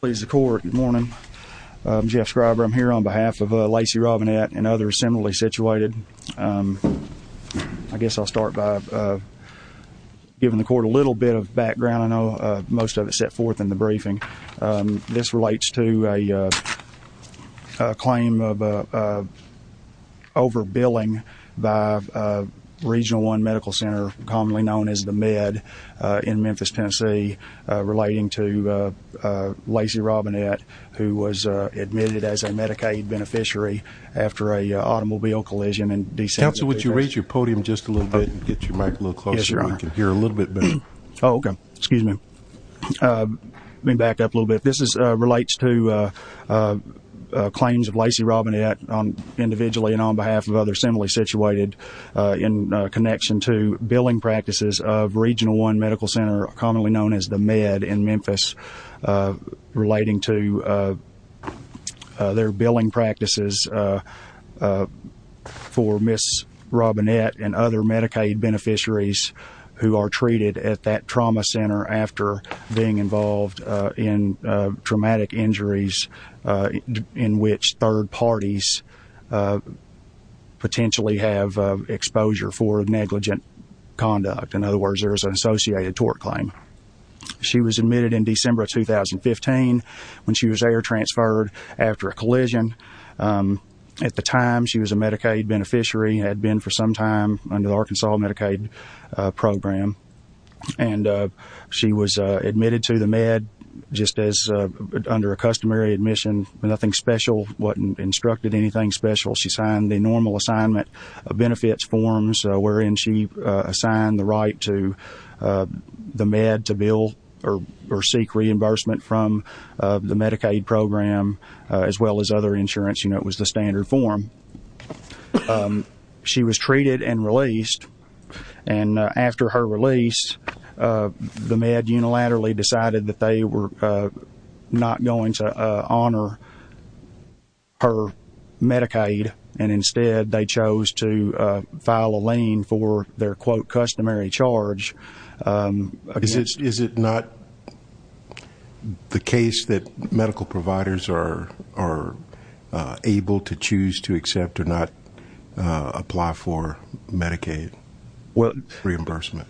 Please the court, good morning. I'm Jeff Scriber. I'm here on behalf of Lacey Robinett and others similarly situated. I guess I'll start by giving the court a little bit of background. I know most of it set forth in the briefing. This relates to a claim of over billing by Regional One Medical Center, commonly known as the Med in Memphis, Connecticut. I'm here on behalf of Lacey Robinett, who was admitted as a Medicaid beneficiary after an automobile collision in December. Counsel, would you raise your podium just a little bit? Get your mic a little closer. Yes, Your Honor. I can hear a little bit better. Oh, okay. Excuse me. Let me back up a little bit. This relates to claims of Lacey Robinett individually and on behalf of others similarly situated in connection to billing practices of Regional One Medical Center, commonly known as the Med in Memphis, relating to their billing practices for Ms. Robinett and other Medicaid beneficiaries who are treated at that trauma center after being involved in traumatic injuries in which third parties potentially have exposure for negligent conduct. In other words, there's an associated tort claim. She was admitted in December of 2015 when she was air transferred after a collision. At the time, she was a Medicaid beneficiary, had been for some time under the Arkansas Medicaid program. She was admitted to the Med just as under a customary admission, nothing special, wasn't instructed anything special. She signed the normal assignment of benefits, forms, wherein she assigned the right to the Med to bill or seek reimbursement from the Medicaid program as well as other insurance. You know, it was the standard form. She was treated and released. And after her release, the Med unilaterally decided that they were not going to honor her Medicaid and instead they chose to file a lien for their quote customary charge. Is it not the case that medical providers are able to choose to accept or not apply for Medicaid reimbursement?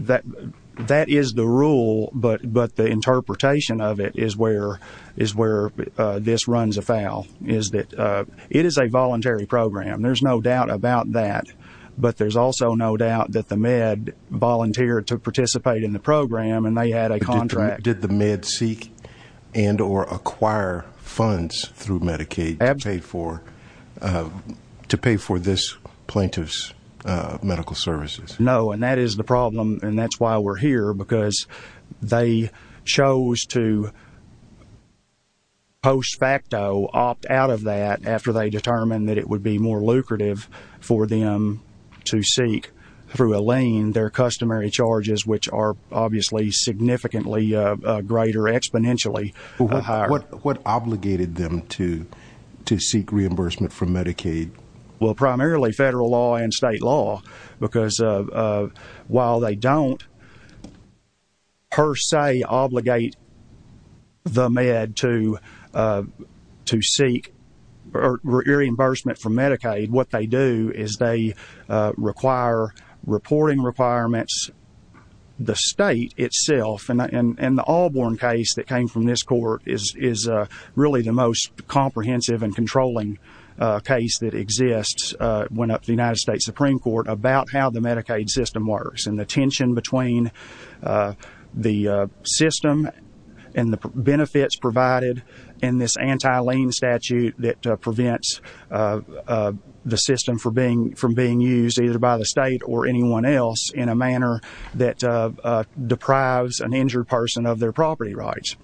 That is the rule, but the interpretation of it is where this runs afoul, is that it is a voluntary program. There's no doubt about that, but there's also no doubt that the Med volunteered to participate in the program and they had a contract. Did the Med seek and or acquire funds through Medicaid to pay for this plaintiff's medical services? No, and that is the problem, and that's why we're here, because they chose to post facto opt out of that after they determined that it would be more lucrative for them to seek through a lien their customary charges, which are obviously significantly greater exponentially. What obligated them to seek reimbursement from Medicaid? Well, primarily federal law and state law, because while they don't per se obligate the Med to seek reimbursement from Medicaid, what they do is they require reporting requirements the state itself, and the Allborn case that came from this court is really the most comprehensive and controlling case that exists when up the United States Supreme Court about how the Medicaid system works and the tension between the system and the benefits provided in this anti-lien statute that prevents the system from being used either by the state or anyone else in a manner that deprives an injured person of their property rights.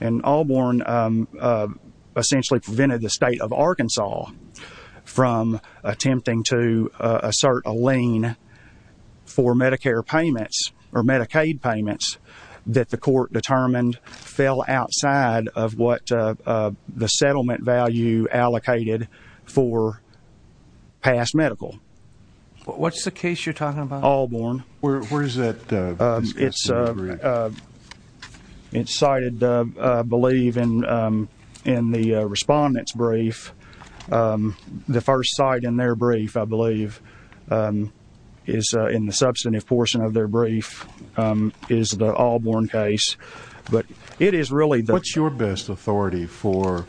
And Allborn essentially prevented the state of Arkansas from attempting to assert a lien for Medicare payments or Medicaid payments that the court determined fell outside of what the settlement value allocated for past medical. What's the case you're talking about? Allborn. Where is that? It's cited, I believe, in the Respondent's brief. The first site in their brief, I believe, is in the substantive portion of their brief is the Allborn case, but it is really the What's your best authority for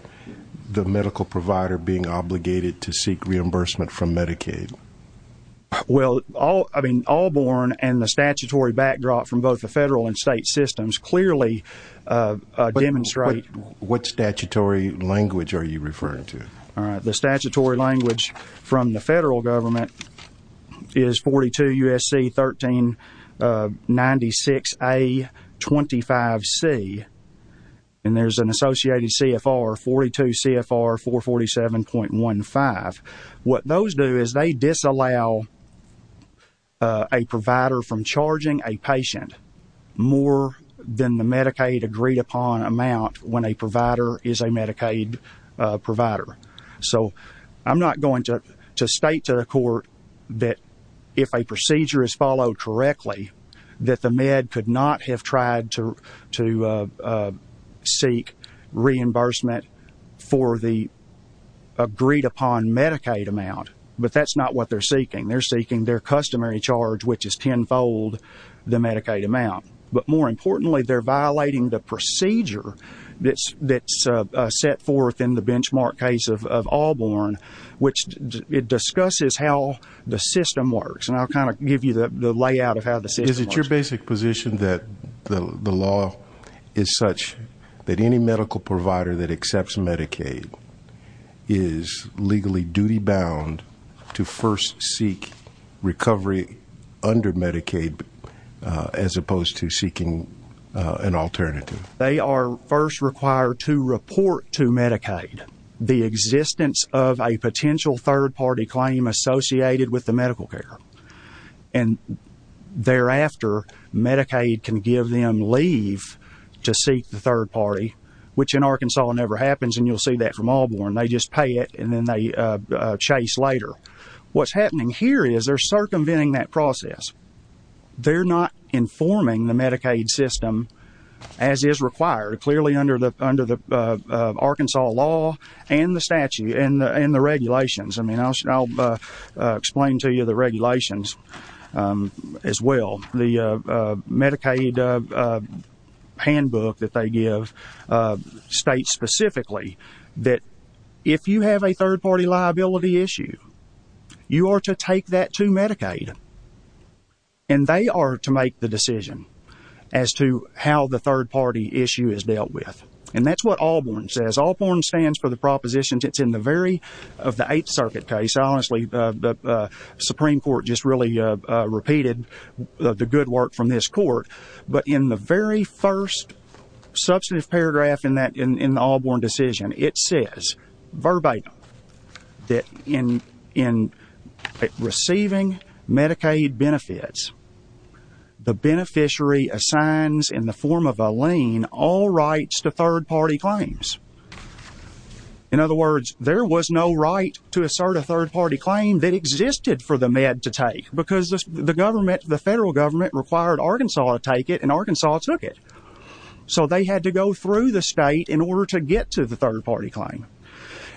the medical provider being obligated to seek reimbursement from Medicaid? Well, I mean, Allborn and the statutory backdrop from both the federal and state systems clearly demonstrate What statutory language are you referring to? The statutory language from the federal government is 42 U.S.C. 1396A25C, and there's an associated CFR, 42 CFR 447.15. What those do is they disallow a provider from charging a patient more than the Medicaid agreed upon amount when a provider is a Medicaid provider. So I'm not going to state to the court that if a procedure is followed correctly, that the med could not have tried to seek reimbursement for the agreed upon Medicaid amount, but that's not what they're seeking. They're seeking their customary charge, which is tenfold the Medicaid amount. But more importantly, they're violating the procedure that's set forth in the benchmark case of Allborn, which it discusses how the system works. And I'll kind of give you the layout of how the system works. Is it your basic position that the law is such that any medical provider that accepts Medicaid is legally duty-bound to first seek recovery under Medicaid as opposed to seeking an alternative? They are first required to report to Medicaid the existence of a potential third-party claim associated with the medical care. And thereafter, Medicaid can give them leave to seek the third-party, which in Arkansas never happens, and you'll see that from Allborn. They just pay it and then they chase later. What's happening here is they're circumventing that process. They're not informing the Medicaid system as is required, clearly under the Arkansas law and the statute and the regulations. I'll explain to you the regulations as well. The Medicaid handbook that they give states specifically that if you have a third-party liability issue, you are to take that to Medicaid, and they are to make the decision as to how the third-party issue is dealt with. And that's what Allborn says. Allborn stands for the propositions in the very of the Eighth Circuit case. Honestly, the Supreme Court just really repeated the good work from this court. But in the very first substantive paragraph in the Allborn decision, it says verbatim that in receiving Medicaid benefits, the beneficiary assigns in the form of a lien all rights to third-party claims. In other words, there was no right to assert a third-party claim that existed for the Med to take because the federal government required Arkansas to take it, and Arkansas took it. So they had to go through the state in order to get to the third-party claim.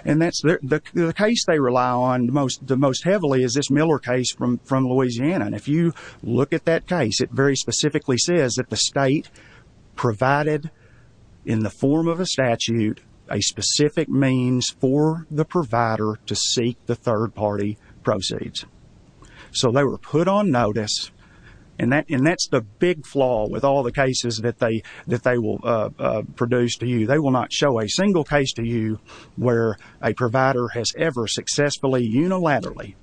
And the case they rely on the most heavily is this Miller case from Louisiana. And if you look at that case, it very specifically says that the state provided in the form of a statute a specific means for the provider to seek the third-party proceeds. So they were put on notice, and that's the big flaw with all the cases that they will produce to you. They will not show a single case to you where a provider has ever successfully unilaterally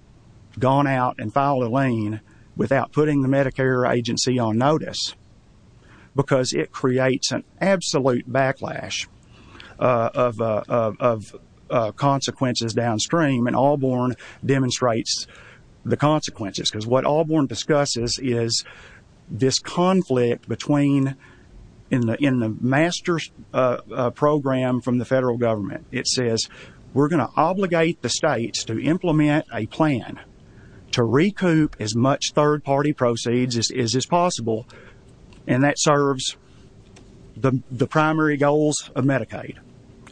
gone out and filed a lien without putting the Medicare agency on notice because it creates an absolute backlash of consequences downstream, and Allborn demonstrates the consequences. Because what Allborn discusses is this conflict between in the master's program from the federal government. It says, we're going to obligate the states to implement a plan to recoup as much third-party proceeds as is possible, and that serves the primary goals of Medicaid,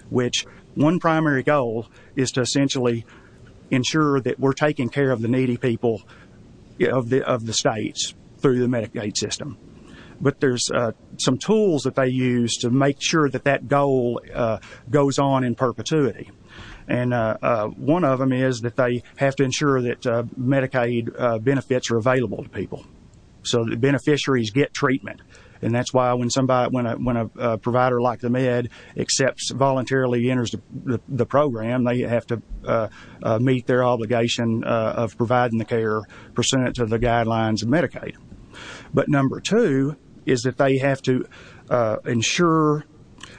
which one primary goal is to essentially ensure that we're taking care of the needy people of the states through the Medicaid system. But there's some tools that they use to make sure that that goal goes on in perpetuity. And one of them is that they have to ensure that Medicaid benefits are available to people so that beneficiaries get treatment. And that's why when somebody, when a provider like the Med accepts, voluntarily enters the program, they have to meet their obligation of providing the care pursuant to the guidelines of Medicaid. But number two is that they have to ensure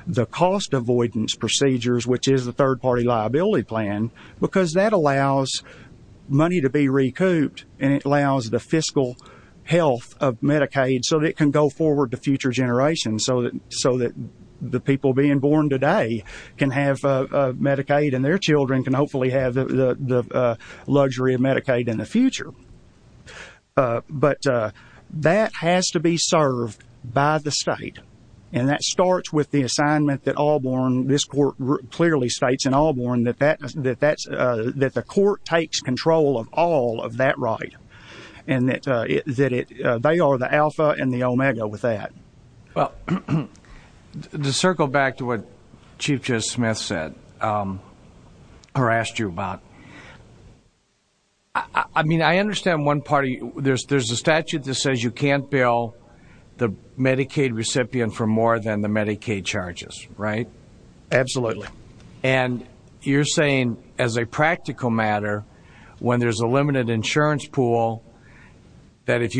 the cost avoidance procedures, which is the third-party liability plan, because that allows money to be recouped and it allows the fiscal health of Medicaid so that it can go forward to future generations so that the people being born today can have Medicaid and their children can hopefully have the luxury of Medicaid in the future. But that has to be served by the state. And that starts with the assignment that Allborn, this court clearly states in Allborn, that the court takes control of all of that right. And that they are the alpha and the omega with that. Well, to circle back to what Chief Judge Smith said, or asked you about, I mean, I understand one party, there's a statute that says you can't bill the Medicaid recipient for more than the Medicaid charges, right? Absolutely. And you're saying as a practical matter, when there's a limited insurance pool, that if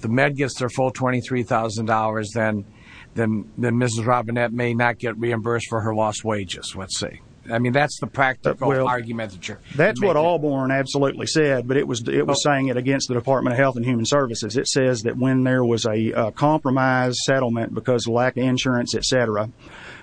the Med gets their full $23,000, then Mrs. Robinette may not get reimbursed for her lost wages, let's say. I mean, that's the practical argument. That's what Allborn absolutely said, but it was saying it against the Department of Health and Human Services. It says that when there was a compromise settlement because of lack of insurance, et cetera,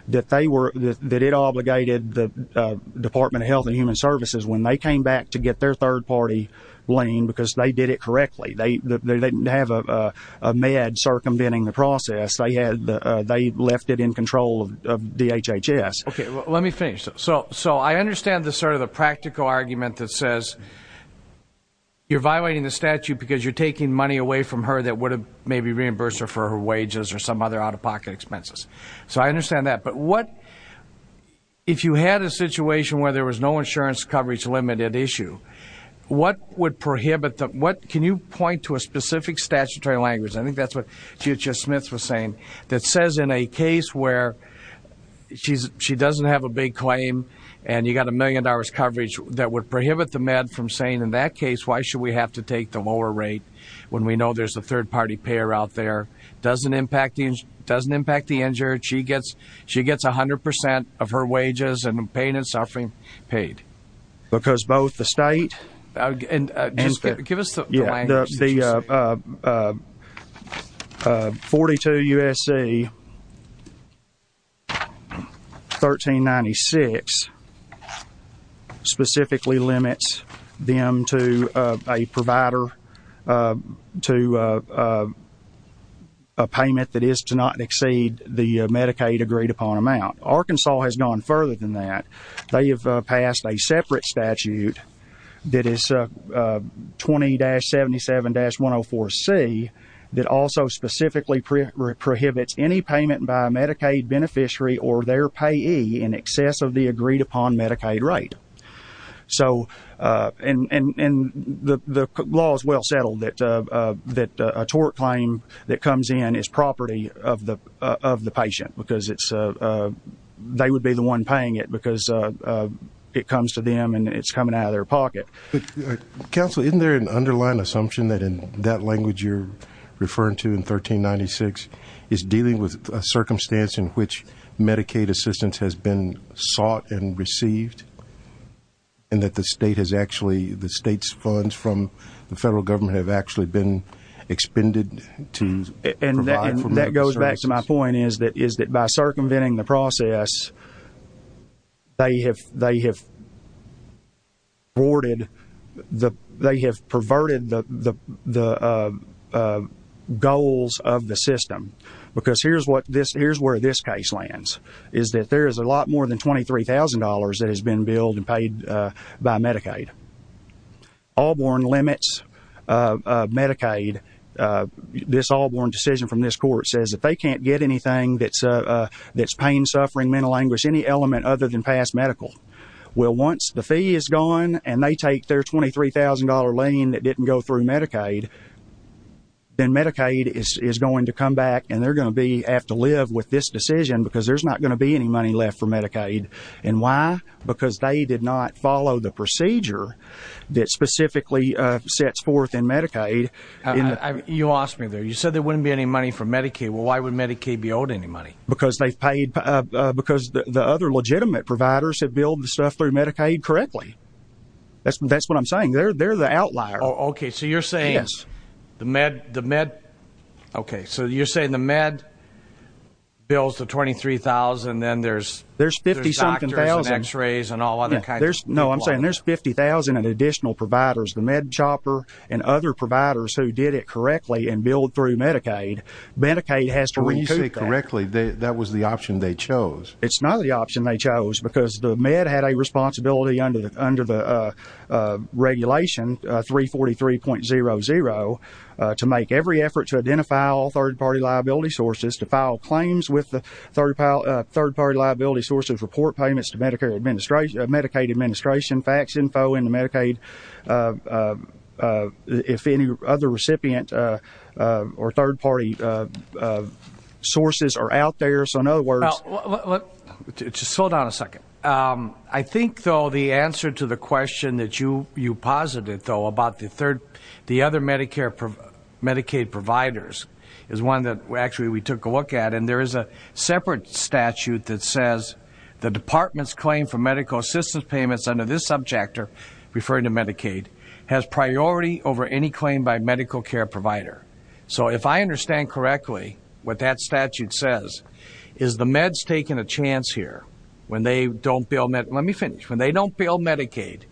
that it obligated the Department of Health and Human Services when they came back to get their third-party lien because they did it correctly. They didn't have a Med circumventing the process. They left it in control of DHHS. Let me finish. So I understand sort of the practical argument that says you're violating the statute because you're taking money away from her that would have maybe reimbursed her for her wages or some other out-of-pocket expenses. So I understand that. But what, if you had a situation where there was no insurance coverage limited issue, what would prohibit the, what, can you point to a specific statutory language, I think that's what Chief Smith was saying, that says in a case where she doesn't have a big claim and you've got a million dollars coverage that would prohibit the Med from saying, in that case, why should we have to take the lower rate when we know there's a third-party payer out there? Doesn't impact the insurance. She gets a hundred percent of her wages and pain and suffering paid. Because both the state and the 42 U.S.C. 1396 specifically limits them to a provider, to a payment that is to not exceed the Medicaid agreed upon amount. Arkansas has gone further than that. They have passed a separate statute that is 20-77-104C that also specifically prohibits any payment by a Medicaid beneficiary or their payee in excess of the agreed upon Medicaid rate. So, and the law is well settled that a tort claim that comes in is property of the patient because it's, they would be the one paying it because it comes to them and it's coming out of their pocket. Counsel, isn't there an underlying assumption that in that language you're referring to in 1396 is dealing with a circumstance in which Medicaid assistance has been sought and received and that the state has actually, the state's funds from the federal government have actually been expended to provide for Medicaid assistance? That goes back to my point is that by circumventing the process, they have rewarded, they have perverted the goals of the system. Because here's what this, here's where this case lands is that there is a lot more than $23,000 that has been billed and paid by Medicaid. All it says, if they can't get anything that's pain, suffering, mental anguish, any element other than past medical, well once the fee is gone and they take their $23,000 lien that didn't go through Medicaid, then Medicaid is going to come back and they're going to be, have to live with this decision because there's not going to be any money left for Medicaid. And why? Because they did not follow the procedure that specifically sets forth in Medicaid. You lost me there. You said there wouldn't be any money for Medicaid. Well, why would Medicaid be owed any money? Because they've paid, because the other legitimate providers have billed the stuff through Medicaid correctly. That's what I'm saying. They're the outlier. Oh, okay. So you're saying the med, the med, okay. So you're saying the med bills the $23,000 and then there's doctors and x-rays and all other kinds of people. I'm saying there's 50,000 additional providers, the med chopper and other providers who did it correctly and billed through Medicaid. Medicaid has to recoup that. When you say correctly, that was the option they chose. It's not the option they chose because the med had a responsibility under the regulation 343.00 to make every effort to identify all third party liability sources, to file claims with the third party liability sources, report payments to Medicaid administration, fax info into Medicaid, if any other recipient or third party sources are out there. So in other words... Just hold on a second. I think though the answer to the question that you posited though about the third, the other Medicare, Medicaid providers is one that actually we took a look at and there is a separate statute that says the department's claim for medical assistance payments under this subject, referring to Medicaid, has priority over any claim by medical care provider. So if I understand correctly, what that statute says is the meds taking a chance here when they don't bill, let me finish, when they don't bill Medicaid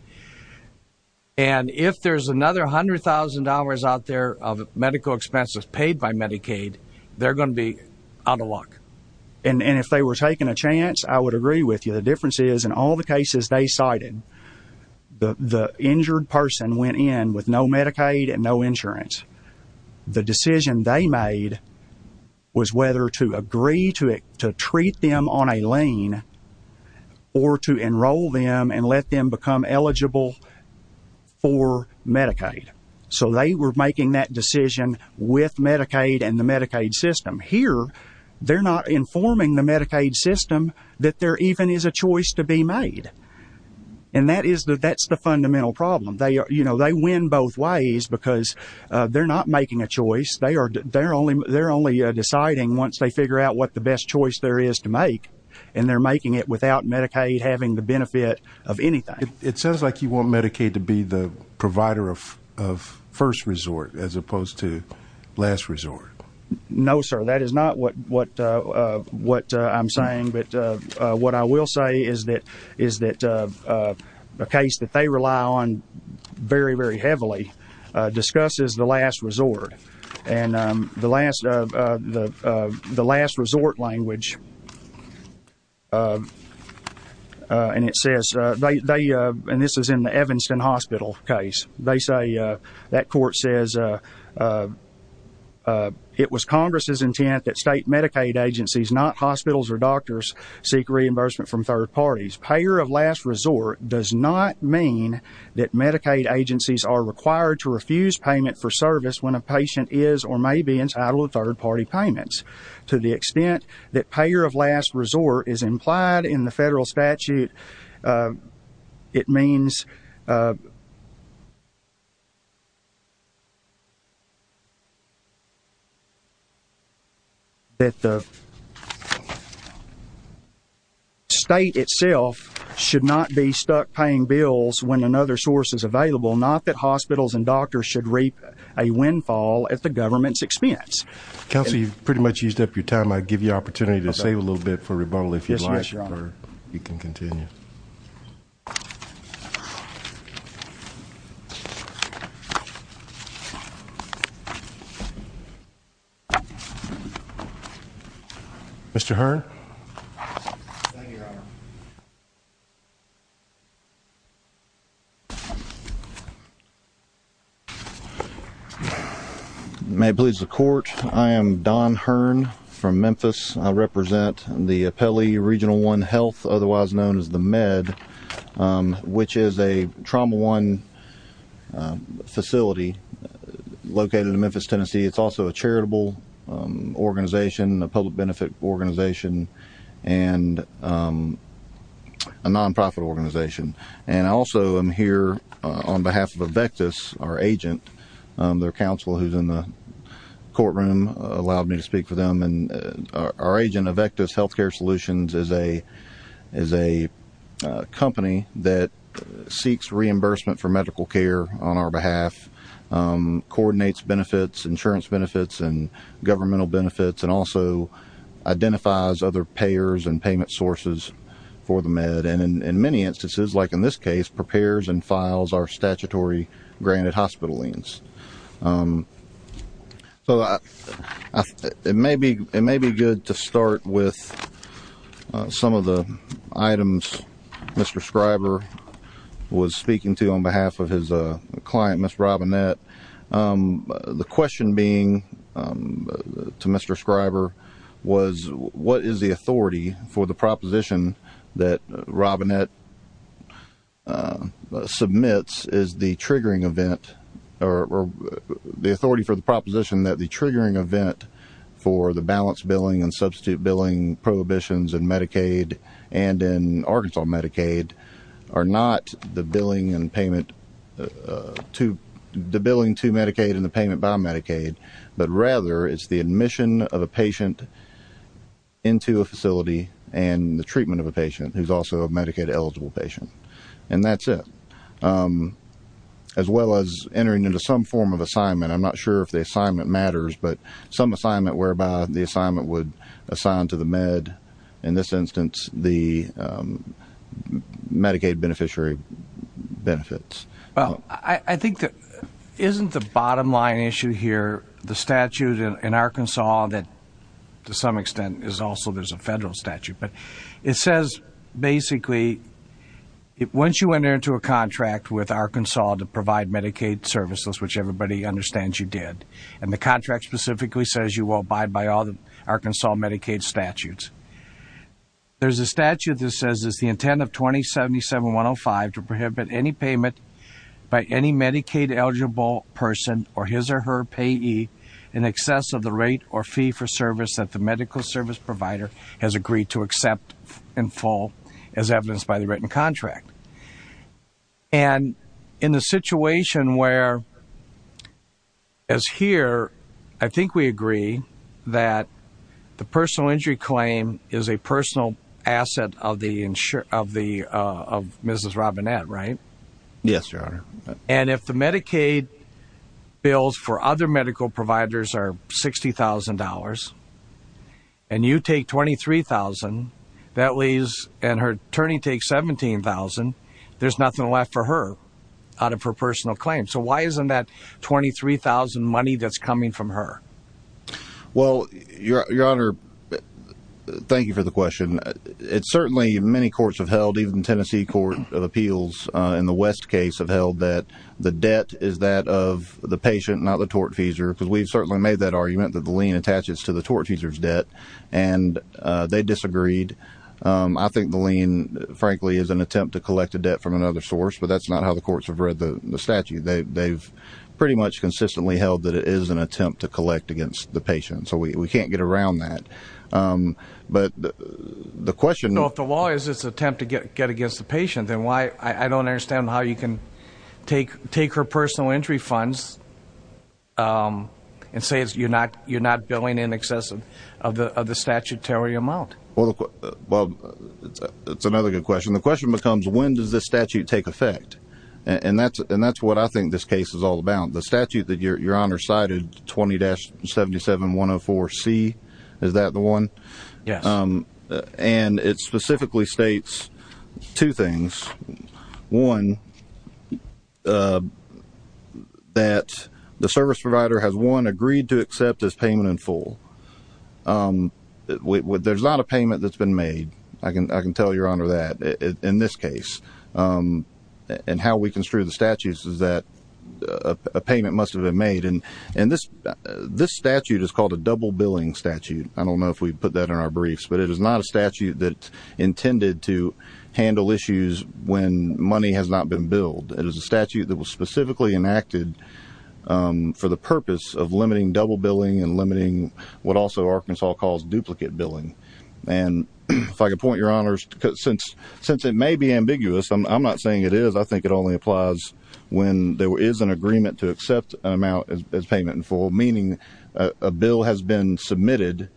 and if there's another $100,000 out there of medical expenses paid by Medicaid, they're going to be out of luck. And if they were taking a chance, I would agree with you. The difference is in all the cases they cited, the injured person went in with no Medicaid and no insurance. The decision they made was whether to agree to treat them on a lien or to enroll them and let them become eligible for Medicaid. So they were making that decision with Medicaid and the Medicaid system. Here, they're not informing the Medicaid system that there even is a choice to be made. And that's the fundamental problem. They win both ways because they're not making a choice. They're only deciding once they figure out what the best choice there is to make and they're making it without Medicaid having the benefit of anything. It sounds like you want Medicaid to be the provider of first resort as opposed to last resort. No, sir. That is not what I'm saying. But what I will say is that a case that they rely on very, very heavily discusses the last resort. And the last resort language, and it says, and this is in the Evanston Hospital case, they say, that court says, it was Congress' intent that state Medicaid agencies, not hospitals or doctors, seek reimbursement from third parties. Payer of last resort does not mean that Medicaid agencies are required to refuse payment for service when a patient is or may be entitled to third party payments. To the extent that it means that the state itself should not be stuck paying bills when another source is available, not that hospitals and doctors should reap a windfall at the government's expense. Counsel, you've pretty much used up your time. I'd give you an opportunity to save a little bit for rebuttal if you'd like. Yes, sir, Your Honor. You can continue. Mr. Hearn. Thank you, Your Honor. May it please the court, I am Don Hearn from Memphis. I represent the Appellee Regional One Health, otherwise known as the MED, which is a trauma one facility located in Memphis, Tennessee. It's also a charitable organization, a public benefit organization, and a non-profit organization. I also am here on behalf of Avectus, our agent. Their counsel, who's in the courtroom, allowed me to speak for them. Our agent, Avectus Healthcare Solutions, is a company that seeks reimbursement for medical care on our behalf, coordinates benefits, insurance benefits, and governmental benefits, and also identifies other payers and payment sources for the MED, and in many instances, like in this case, prepares and files our statutory granted hospital liens. So, it may be good to start with some of the items Mr. Scriber was speaking to on behalf of his client, Ms. Robinette. The question being to Mr. Scriber was, what is the authority for the proposition that Robinette submits is the triggering event, or the authority for the proposition that the triggering event for the balance billing and substitute billing prohibitions in Medicaid and in Arkansas Medicaid are not the billing to Medicaid and the payment by Medicaid, but rather it's the admission of a patient into a facility and the treatment of a patient, who's also a Medicaid-eligible patient, and that's it, as well as entering into some form of assignment. I'm not sure if the assignment matters, but some assignment whereby the assignment would assign to the MED, in this instance, the Medicaid beneficiary benefits. Well, I think that, isn't the bottom line issue here, the statute in Arkansas that, to some extent, is also there's a federal statute, but it says, basically, once you enter into a contract with Arkansas to provide Medicaid services, which everybody understands you did, and the contract specifically says you will abide by all the Arkansas Medicaid statutes, there's a statute that says it's the intent of 2077-105 to prohibit any payment by any Medicaid-eligible person, or his or her payee, in excess of the rate or fee for service that the medical service provider has agreed to accept in full, as evidenced by the written contract. And in the situation where, as here, I think we agree that the personal injury claim is a personal asset of Mrs. Robinette, right? Yes, Your Honor. And if the Medicaid bills for other medical providers are $60,000, and you take $23,000, and her attorney takes $17,000, there's nothing left for her out of her personal claim. So why isn't that $23,000 money that's coming from her? Well, Your Honor, thank you for the question. It's certainly, many courts have held, even Tennessee Court of Appeals in the West case have held that the debt is that of the patient, not the tortfeasor, because we've certainly made that argument that the lien attaches to the tortfeasor's debt, and they disagreed. I think the lien, frankly, is an attempt to collect a debt from another source, but that's not how the courts have read the statute. They've pretty much consistently held that it is an attempt to collect against the patient, so we can't get around that. But the question... So if the law is this attempt to get against the patient, then why, I don't understand how you can take her personal injury funds and say you're not billing in excess of the statutory amount. Well, it's another good question. The question becomes, when does this statute take effect? And that's what I think this case is all about. The statute that Your Honor cited, 20-77-104-C, is that the one? Yes. And it specifically states two things. One, that the service provider has, one, agreed to accept this payment in full. There's not a payment that's been made, I can tell Your Honor. And how we construe the statutes is that a payment must have been made. And this statute is called a double-billing statute. I don't know if we put that in our briefs, but it is not a statute that's intended to handle issues when money has not been billed. It is a statute that was specifically enacted for the purpose of limiting double-billing and limiting what also Arkansas calls duplicate billing. And if I could point, Your Honor, since it may be ambiguous, I'm not saying it is, I think it only applies when there is an agreement to accept an amount as payment in full, meaning a bill has been submitted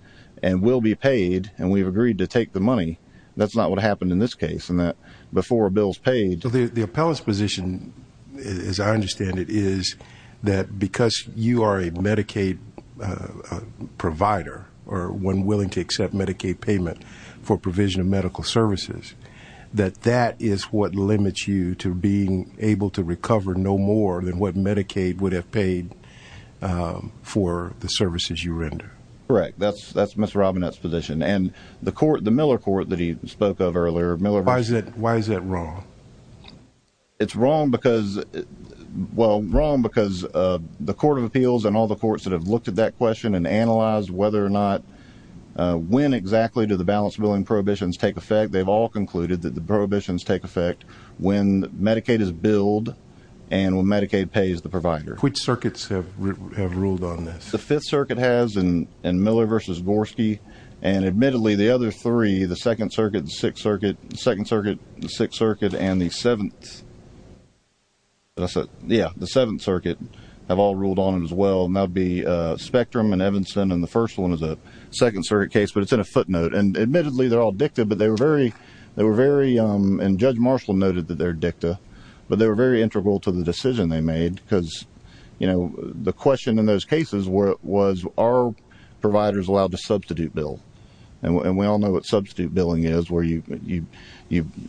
and will be paid, and we've agreed to take the money. That's not what happened in this case in that before a bill's paid. The appellant's position, as I understand it, is that because you are a Medicaid provider, or one willing to accept Medicaid payment for provision of medical services, that that is what limits you to being able to recover no more than what Medicaid would have paid for the services you render. Correct. That's Mr. Robinette's position. And the court, the Miller Court that he spoke of earlier, Miller Court... Why is that wrong? It's wrong because, well, wrong because the Court of Appeals and all the courts that have looked at that question and analyzed whether or not, when exactly do the balanced billing prohibitions take effect, they've all concluded that the prohibitions take effect when Medicaid is billed and when Medicaid pays the provider. Which circuits have ruled on this? The Fifth Circuit has, and Miller v. Gorski, and admittedly the other three, the Second Circuit, the Sixth Circuit, and the Seventh... Yeah, the Seventh Circuit have all ruled on them as well, and that would be Spectrum and Evanston, and the first one is a Second Circuit case, but it's in a footnote. And admittedly, they're all dicta, but they were very, and Judge Marshall noted that they're dicta, but they were very integral to the decision they made because, you know, the question in those cases was, are providers allowed to substitute bill? And we all know what substitute billing is, where you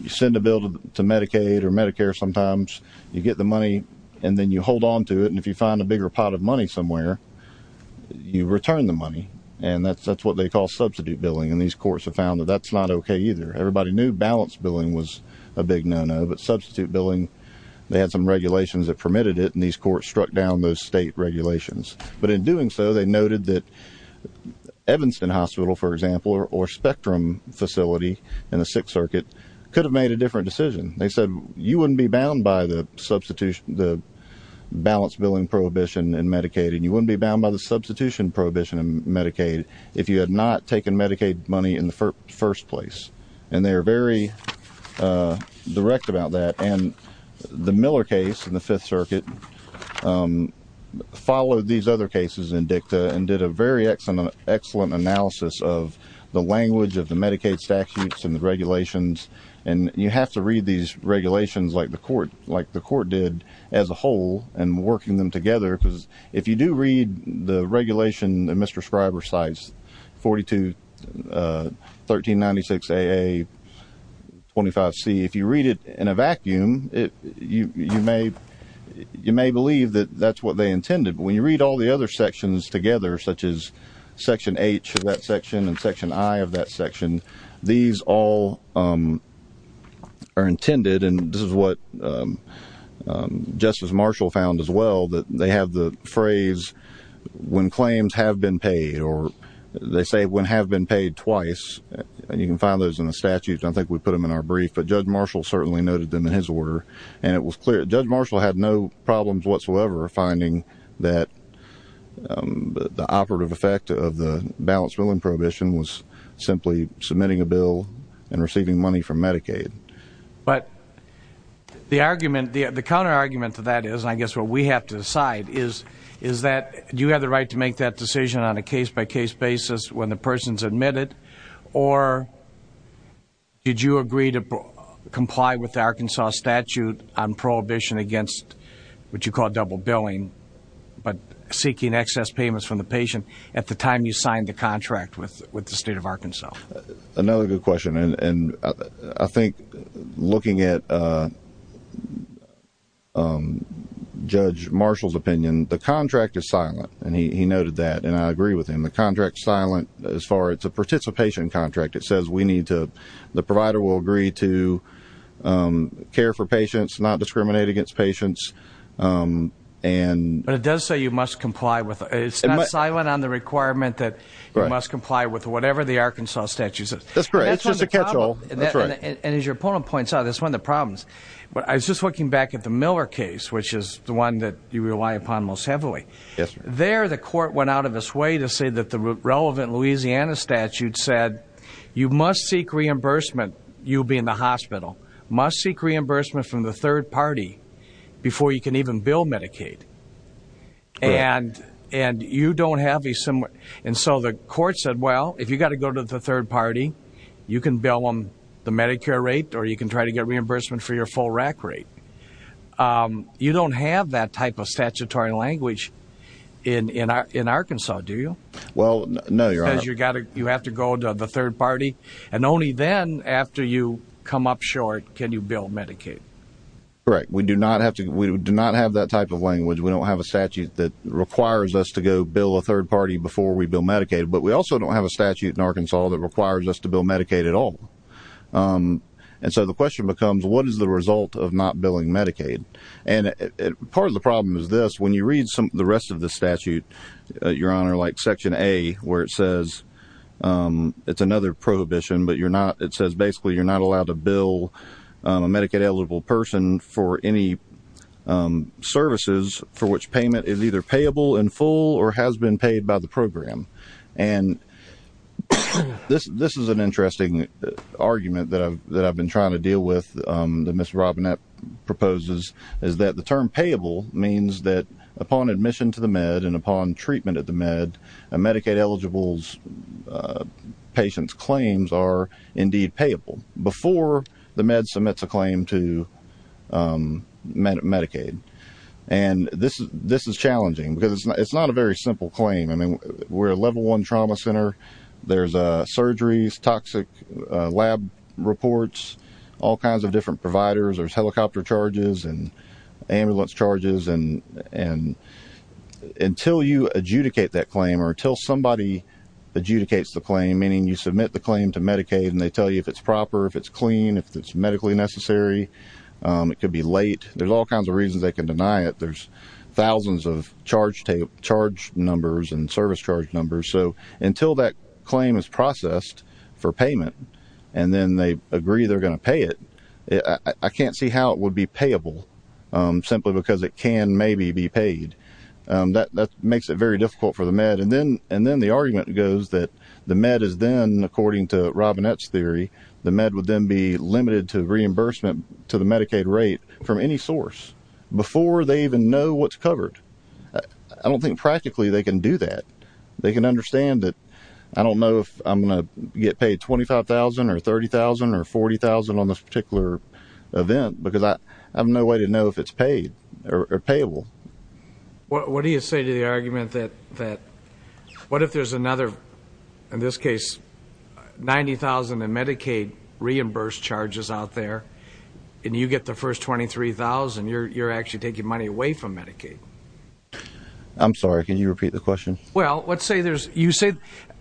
send a bill to Medicaid or Medicare sometimes, you get the money, and then you hold on to it, and if you find a bigger pot of money somewhere, you return the money, and that's what they call substitute billing, and these courts have found that that's not okay either. Everybody knew balanced billing was a big no-no, but substitute billing, they had some regulations that permitted it, and these courts struck down those state regulations. But in doing so, they noted that Evanston Hospital, for example, or Spectrum facility in the Sixth Circuit could have made a different decision. They said, you wouldn't be bound by the balance billing prohibition in Medicaid, and you wouldn't be bound by the substitution prohibition in Medicaid if you had not taken Medicaid money in the first place. And they are very direct about that, and the Miller case in the Fifth Circuit followed these other cases in dicta and did a very excellent analysis of the language of the Medicaid statutes and regulations, and you have to read these regulations like the court did as a whole and working them together, because if you do read the regulation in Mr. Scriber's sites, 42-1396-AA-25C, if you read it in a vacuum, you may believe that that's what they intended, but when you read all the other sections together, such as Section H of that section and Section I of that section, these all are intended, and this is what Justice Marshall found as well, that they have the phrase, when claims have been paid, or they say, when have been paid twice, and you can find those in the statutes. I don't think we put them in our brief, but Judge Marshall certainly noted them in his order, and it was clear. Judge Marshall had no problems whatsoever finding that the operative effect of the balance billing prohibition was simply submitting a bill and receiving money from Medicaid. But the argument, the counterargument to that is, and I guess what we have to decide, is that do you have the right to make that decision on a case-by-case basis when the person's admitted, or did you agree to comply with the Arkansas statute on prohibition against what you call double billing, but seeking excess payments from the patient at the time you signed the contract with the state of Arkansas? Another good question, and I think looking at Judge Marshall's opinion, the contract is silent, and he noted that, and I agree with him. The contract's silent as far as a participation contract. It says we need to, the provider will agree to care for patients, not discriminate against patients, and... But it does say you must comply with, it's not silent on the requirement that you must comply with whatever the Arkansas statute says. That's correct. It's just a catch-all. And as your opponent points out, that's one of the problems. But I was just looking back at the Miller case, which is the one that you rely upon most heavily. There, the court went out of its way to say that the relevant Louisiana statute said you must seek reimbursement, you'll be in the hospital, must seek reimbursement from the third party before you can even bill Medicaid. And you don't have a similar, and so the court said, well, if you've got to go to the third party, you can bill them the Medicare rate, or you can try to get reimbursement for your full RAC rate. You don't have that type of statutory language in Arkansas, do you? Well, no, Your Honor. Because you have to go to the third party, and only then, after you come up short, can you bill Medicaid. Correct. We do not have that type of language. We don't have a statute that requires us to go bill a third party before we bill Medicaid. But we also don't have a statute in Arkansas that requires us to bill Medicaid at all. And so the question becomes, what is the result of not billing Medicaid? And part of the problem is this. When you read the rest of the statute, Your Honor, like Section A, where it says, it's another prohibition, but you're not, it says basically you're not allowed to bill a Medicaid-eligible person for any services for which payment is either payable in full or has been paid by the program. And this is an interesting argument that I've been trying to deal with, that Ms. Robinette proposes, is that the term payable means that upon admission to the med and upon treatment at the med, Medicaid-eligible patient's claims are indeed payable before the med submits a claim to Medicaid. And this is challenging, because it's not a very simple claim. I mean, we're a level one trauma center. There's surgeries, toxic lab reports, all kinds of different providers. There's helicopter charges and ambulance charges. And until you adjudicate that claim or until somebody adjudicates the claim, meaning you submit the claim to Medicaid and they tell you if it's proper, if it's clean, if it's medically necessary, it could be late. There's all kinds of reasons they can deny it. There's thousands of charge numbers and service charge numbers. So until that claim is processed for payment and then they agree they're going to pay it, I can't see how it would be payable simply because it can maybe be paid. That makes it very difficult for the med. And then the argument goes that the med is then, according to Robinette's theory, the med would then be limited to reimbursement to the Medicaid rate from any source before they even know what's covered. I don't think practically they can do that. They can understand that, I don't know if I'm going to get paid $25,000 or $30,000 or $40,000 on this particular event, because I have no way to know if it's paid or payable. What do you say to the argument that, what if there's another, in this case, $90,000 in Medicaid reimbursed charges out there and you get the first $23,000, you're actually taking money away from Medicaid? I'm sorry, can you repeat the question? Well, let's say there's, you say,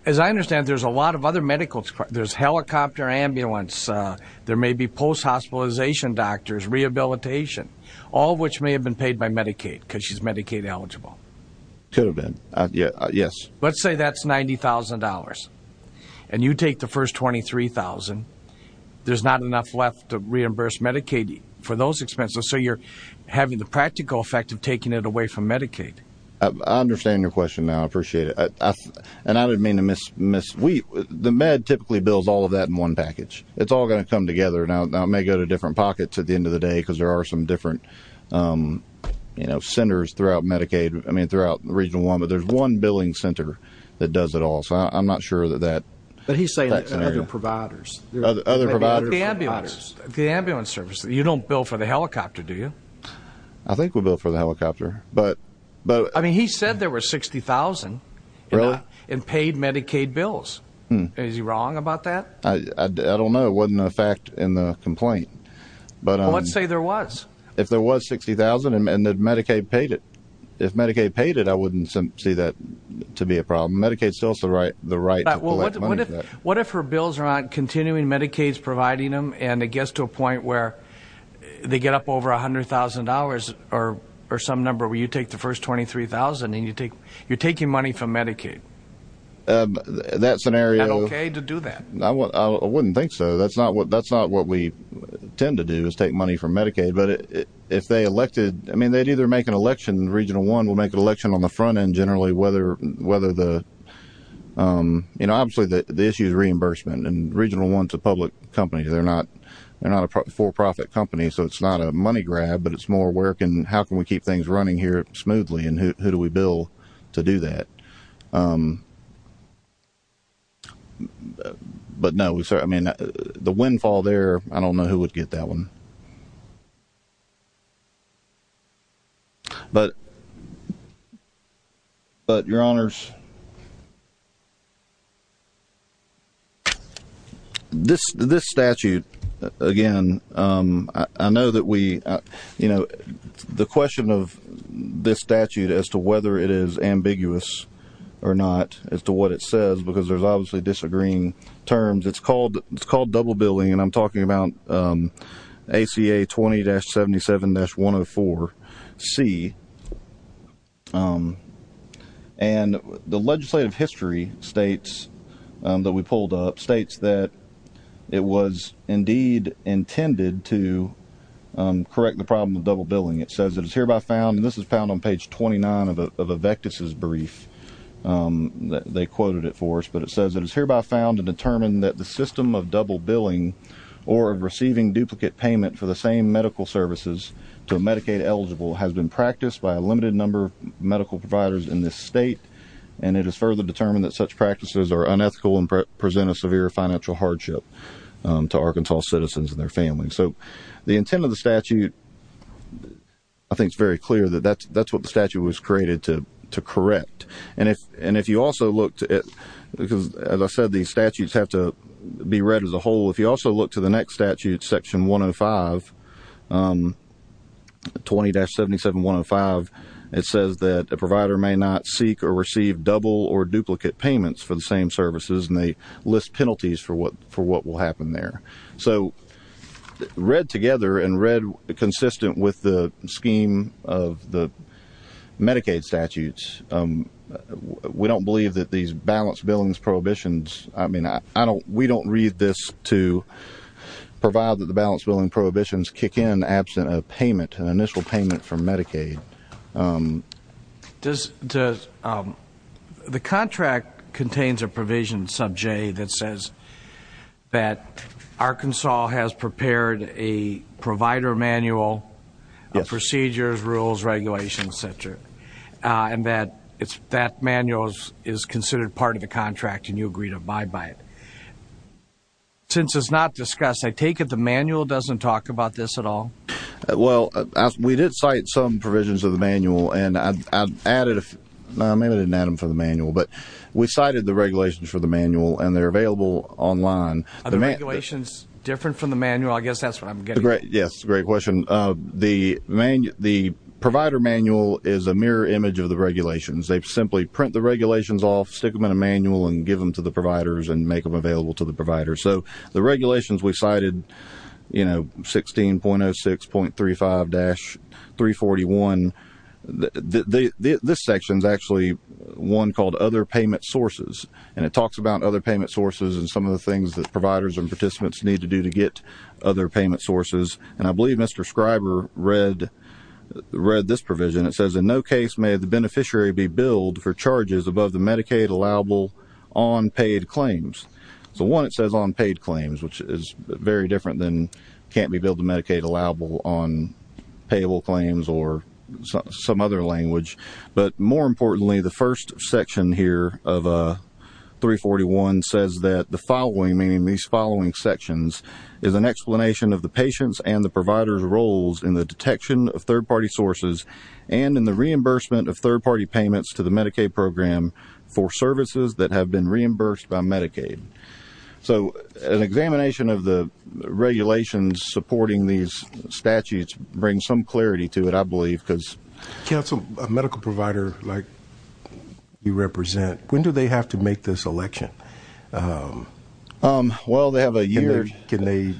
as I understand there's a lot of other medical, there's helicopter ambulance, there may be post-hospitalization doctors, rehabilitation, all of which may have been paid by Medicaid, because she's Medicaid eligible. Could have been, yes. Let's say that's $90,000 and you take the first $23,000, there's not enough left to reimburse Medicaid for those expenses, so you're having the practical effect of taking it away from Medicaid. I understand your question now, I appreciate it. And I don't mean to miss, the Med typically bills all of that in one package. It's all going to come together. Now it may go to different pockets at the end of the day, because there are some different centers throughout Medicaid, I mean, throughout Region 1, but there's one billing center that does it all, so I'm not sure that that's an area. But he's saying other providers. Other providers. The ambulance. The ambulance service. You don't bill for the helicopter, do you? I think we bill for the helicopter, but... I mean, he said there were $60,000 in paid Medicaid bills. Is he wrong about that? I don't know. It wasn't a fact in the complaint. But let's say there was. If there was $60,000 and Medicaid paid it. If Medicaid paid it, I wouldn't see that to be a problem. Medicaid still has the right to collect money for that. What if her bills are not continuing, Medicaid's providing them, and it gets to a point where they get up over $100,000 or some number where you take the first $23,000 and you're taking money from Medicaid? That scenario... Is that okay to do that? I wouldn't think so. That's not what we tend to do, is take money from Medicaid. But if they elected... I mean, they'd either make an election. Region 1 will make an election on the front end, generally, whether the... You know, obviously, the issue is reimbursement, and Region 1's a public company. They're not a for-profit company, so it's not a money grab, but it's more how can we keep things running here smoothly, and who do we bill to do that? But no, we certainly... I mean, the windfall there, I don't know who would get that one. But, Your Honors, this statute, again, I know that we... You know, the question of this statute as to whether it is ambiguous or not, as to what it says, because there's obviously disagreeing and I'm talking about ACA 20-77-104C. And the legislative history states that we pulled up states that it was indeed intended to correct the problem of double billing. It says it is hereby found, and this is found on page 29 of a Vectis' brief. They quoted it for us, but it says it is hereby found to determine that the system of double billing or receiving duplicate payment for the same medical services to a Medicaid-eligible has been practiced by a limited number of medical providers in this state, and it is further determined that such practices are unethical and present a severe financial hardship to Arkansas citizens and their families. So, the intent of the statute, I think it's very clear that that's what the statute was created to correct. And if you also look at... Because, as I said, these statutes have to be read as a whole. If you also look to the next statute, Section 105, 20-77-105, it says that a provider may not seek or receive double or duplicate payments for the same services, and they list penalties for what will happen there. So, read together and read consistent with the scheme of the Medicaid statutes, we don't believe that these balanced billing prohibitions... I mean, we don't read this to provide that the balanced billing prohibitions kick in absent a payment, an initial payment from Medicaid. The contract contains a provision, sub J, that says that Arkansas has prepared a provider manual of procedures, rules, regulations, et cetera, and that manual is considered part of the contract and you agree to abide by it. Since it's not discussed, I take it the manual doesn't talk about this at all? Well, we did cite some provisions of the manual and I've added... No, maybe I didn't add them for the manual, but we cited the regulations for the manual and they're available online. Are the regulations different from the manual? I guess that's what I'm getting at. Yes, great question. The provider manual is a mirror image of the regulations. They simply print the regulations off, stick them in a manual, and give them to the providers and make them available to the providers. The regulations we cited, 16.06.35-341, this section is actually one called Other Payment Sources, and it talks about other payment sources and some of the things that providers and participants need to do to get other payment sources, and I believe Mr. Scriber read this provision. It says, in no case may the beneficiary be One, it says on paid claims, which is very different than can't be billed to Medicaid allowable on payable claims or some other language. But more importantly, the first section here of 341 says that the following, meaning these following sections, is an explanation of the patient's and the provider's roles in the detection of third-party sources and in the reimbursement of third-party payments to the Medicaid program for services that So an examination of the regulations supporting these statutes bring some clarity to it, I believe, because Council, a medical provider like you represent, when do they have to make this election? Well, they have a year Can they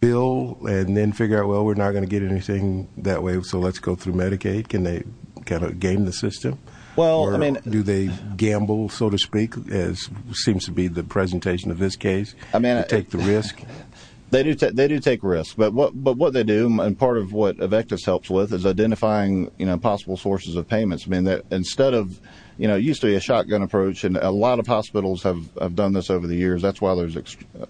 bill and then figure out, well, we're not going to get anything that way, so let's go through Medicaid? Can they kind of game the system? Well, I mean, do they gamble, so to speak, as seems to be the presentation of this case? I mean, I take the risk. They do, they do take risks. But what but what they do, and part of what AVECTUS helps with is identifying, you know, possible sources of payments. I mean, that instead of, you know, used to be a shotgun approach. And a lot of hospitals have done this over the years. That's why there's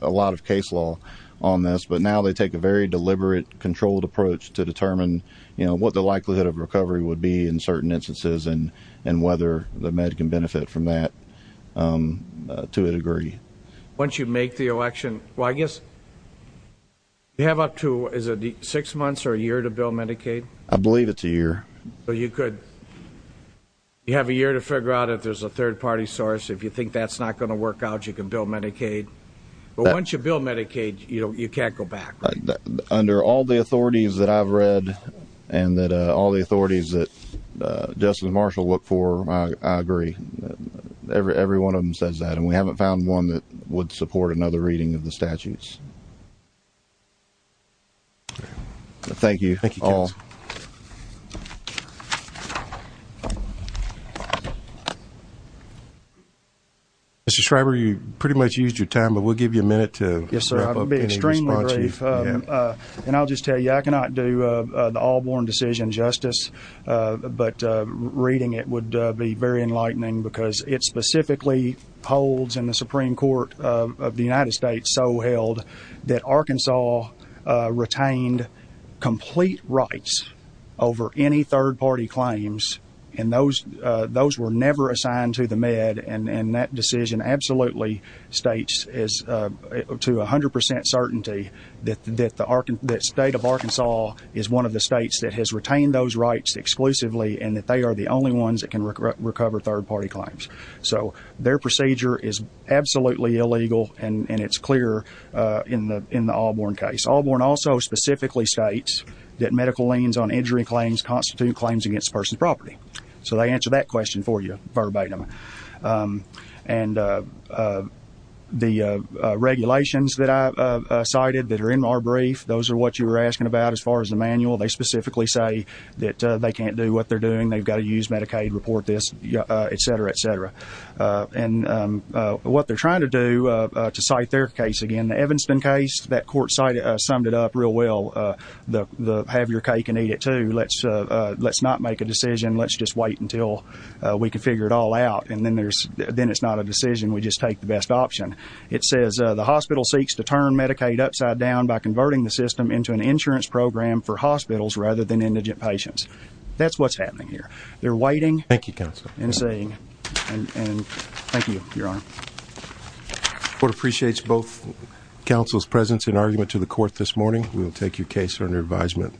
a lot of case law on this. But now they take a very deliberate, controlled approach to determine, you know, what the likelihood of recovery would be in and whether the med can benefit from that to a degree. Once you make the election, well, I guess you have up to is it six months or a year to bill Medicaid? I believe it's a year. So you could you have a year to figure out if there's a third party source, if you think that's not going to work out, you can bill Medicaid. But once you bill Medicaid, you know, you can't go back. Under all the authorities that I've read, and that all the authorities that Justice Marshall look for, I agree. Every one of them says that. And we haven't found one that would support another reading of the statutes. Thank you all. Mr. Schreiber, you pretty much used your time, but we'll give you a minute to Yes, sir. I'll be extremely brief. And I'll just tell you, I cannot do the all born decision justice. But reading it would be very enlightening because it specifically holds in the Supreme Court of the United States so held that Arkansas retained complete rights over any third party claims. And those those were never assigned to the med. And that decision absolutely states is to 100% certainty that the state of Arkansas is one of the states that has retained those rights exclusively and that they are the only ones that can recover third party claims. So their procedure is absolutely illegal. And it's clear in the in the all born case, all born also specifically states that medical liens on injury claims constitute claims against persons property. So they answer that question for you verbatim. And the regulations that I cited that are in our brief, those are what you were asking about. As far as the manual, they specifically say that they can't do what they're doing. They've got to use Medicaid report this, etc, etc. And what they're trying to do to cite their case again, the Evanston case that court cited summed it up real well. The have your cake and eat it too. Let's let's not make a decision. Let's just wait until we can figure it all out. And then there's then it's not a decision. We just take the best option. It says the hospital seeks to turn Medicaid upside down by converting the system into an insurance program for hospitals rather than indigent patients. That's what's happening here. They're waiting. Thank you. And saying, and thank you, Your Honor. Court appreciates both counsel's presence in argument to the court this morning. We'll take your case under advisement,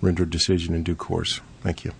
render decision in due course. Thank you.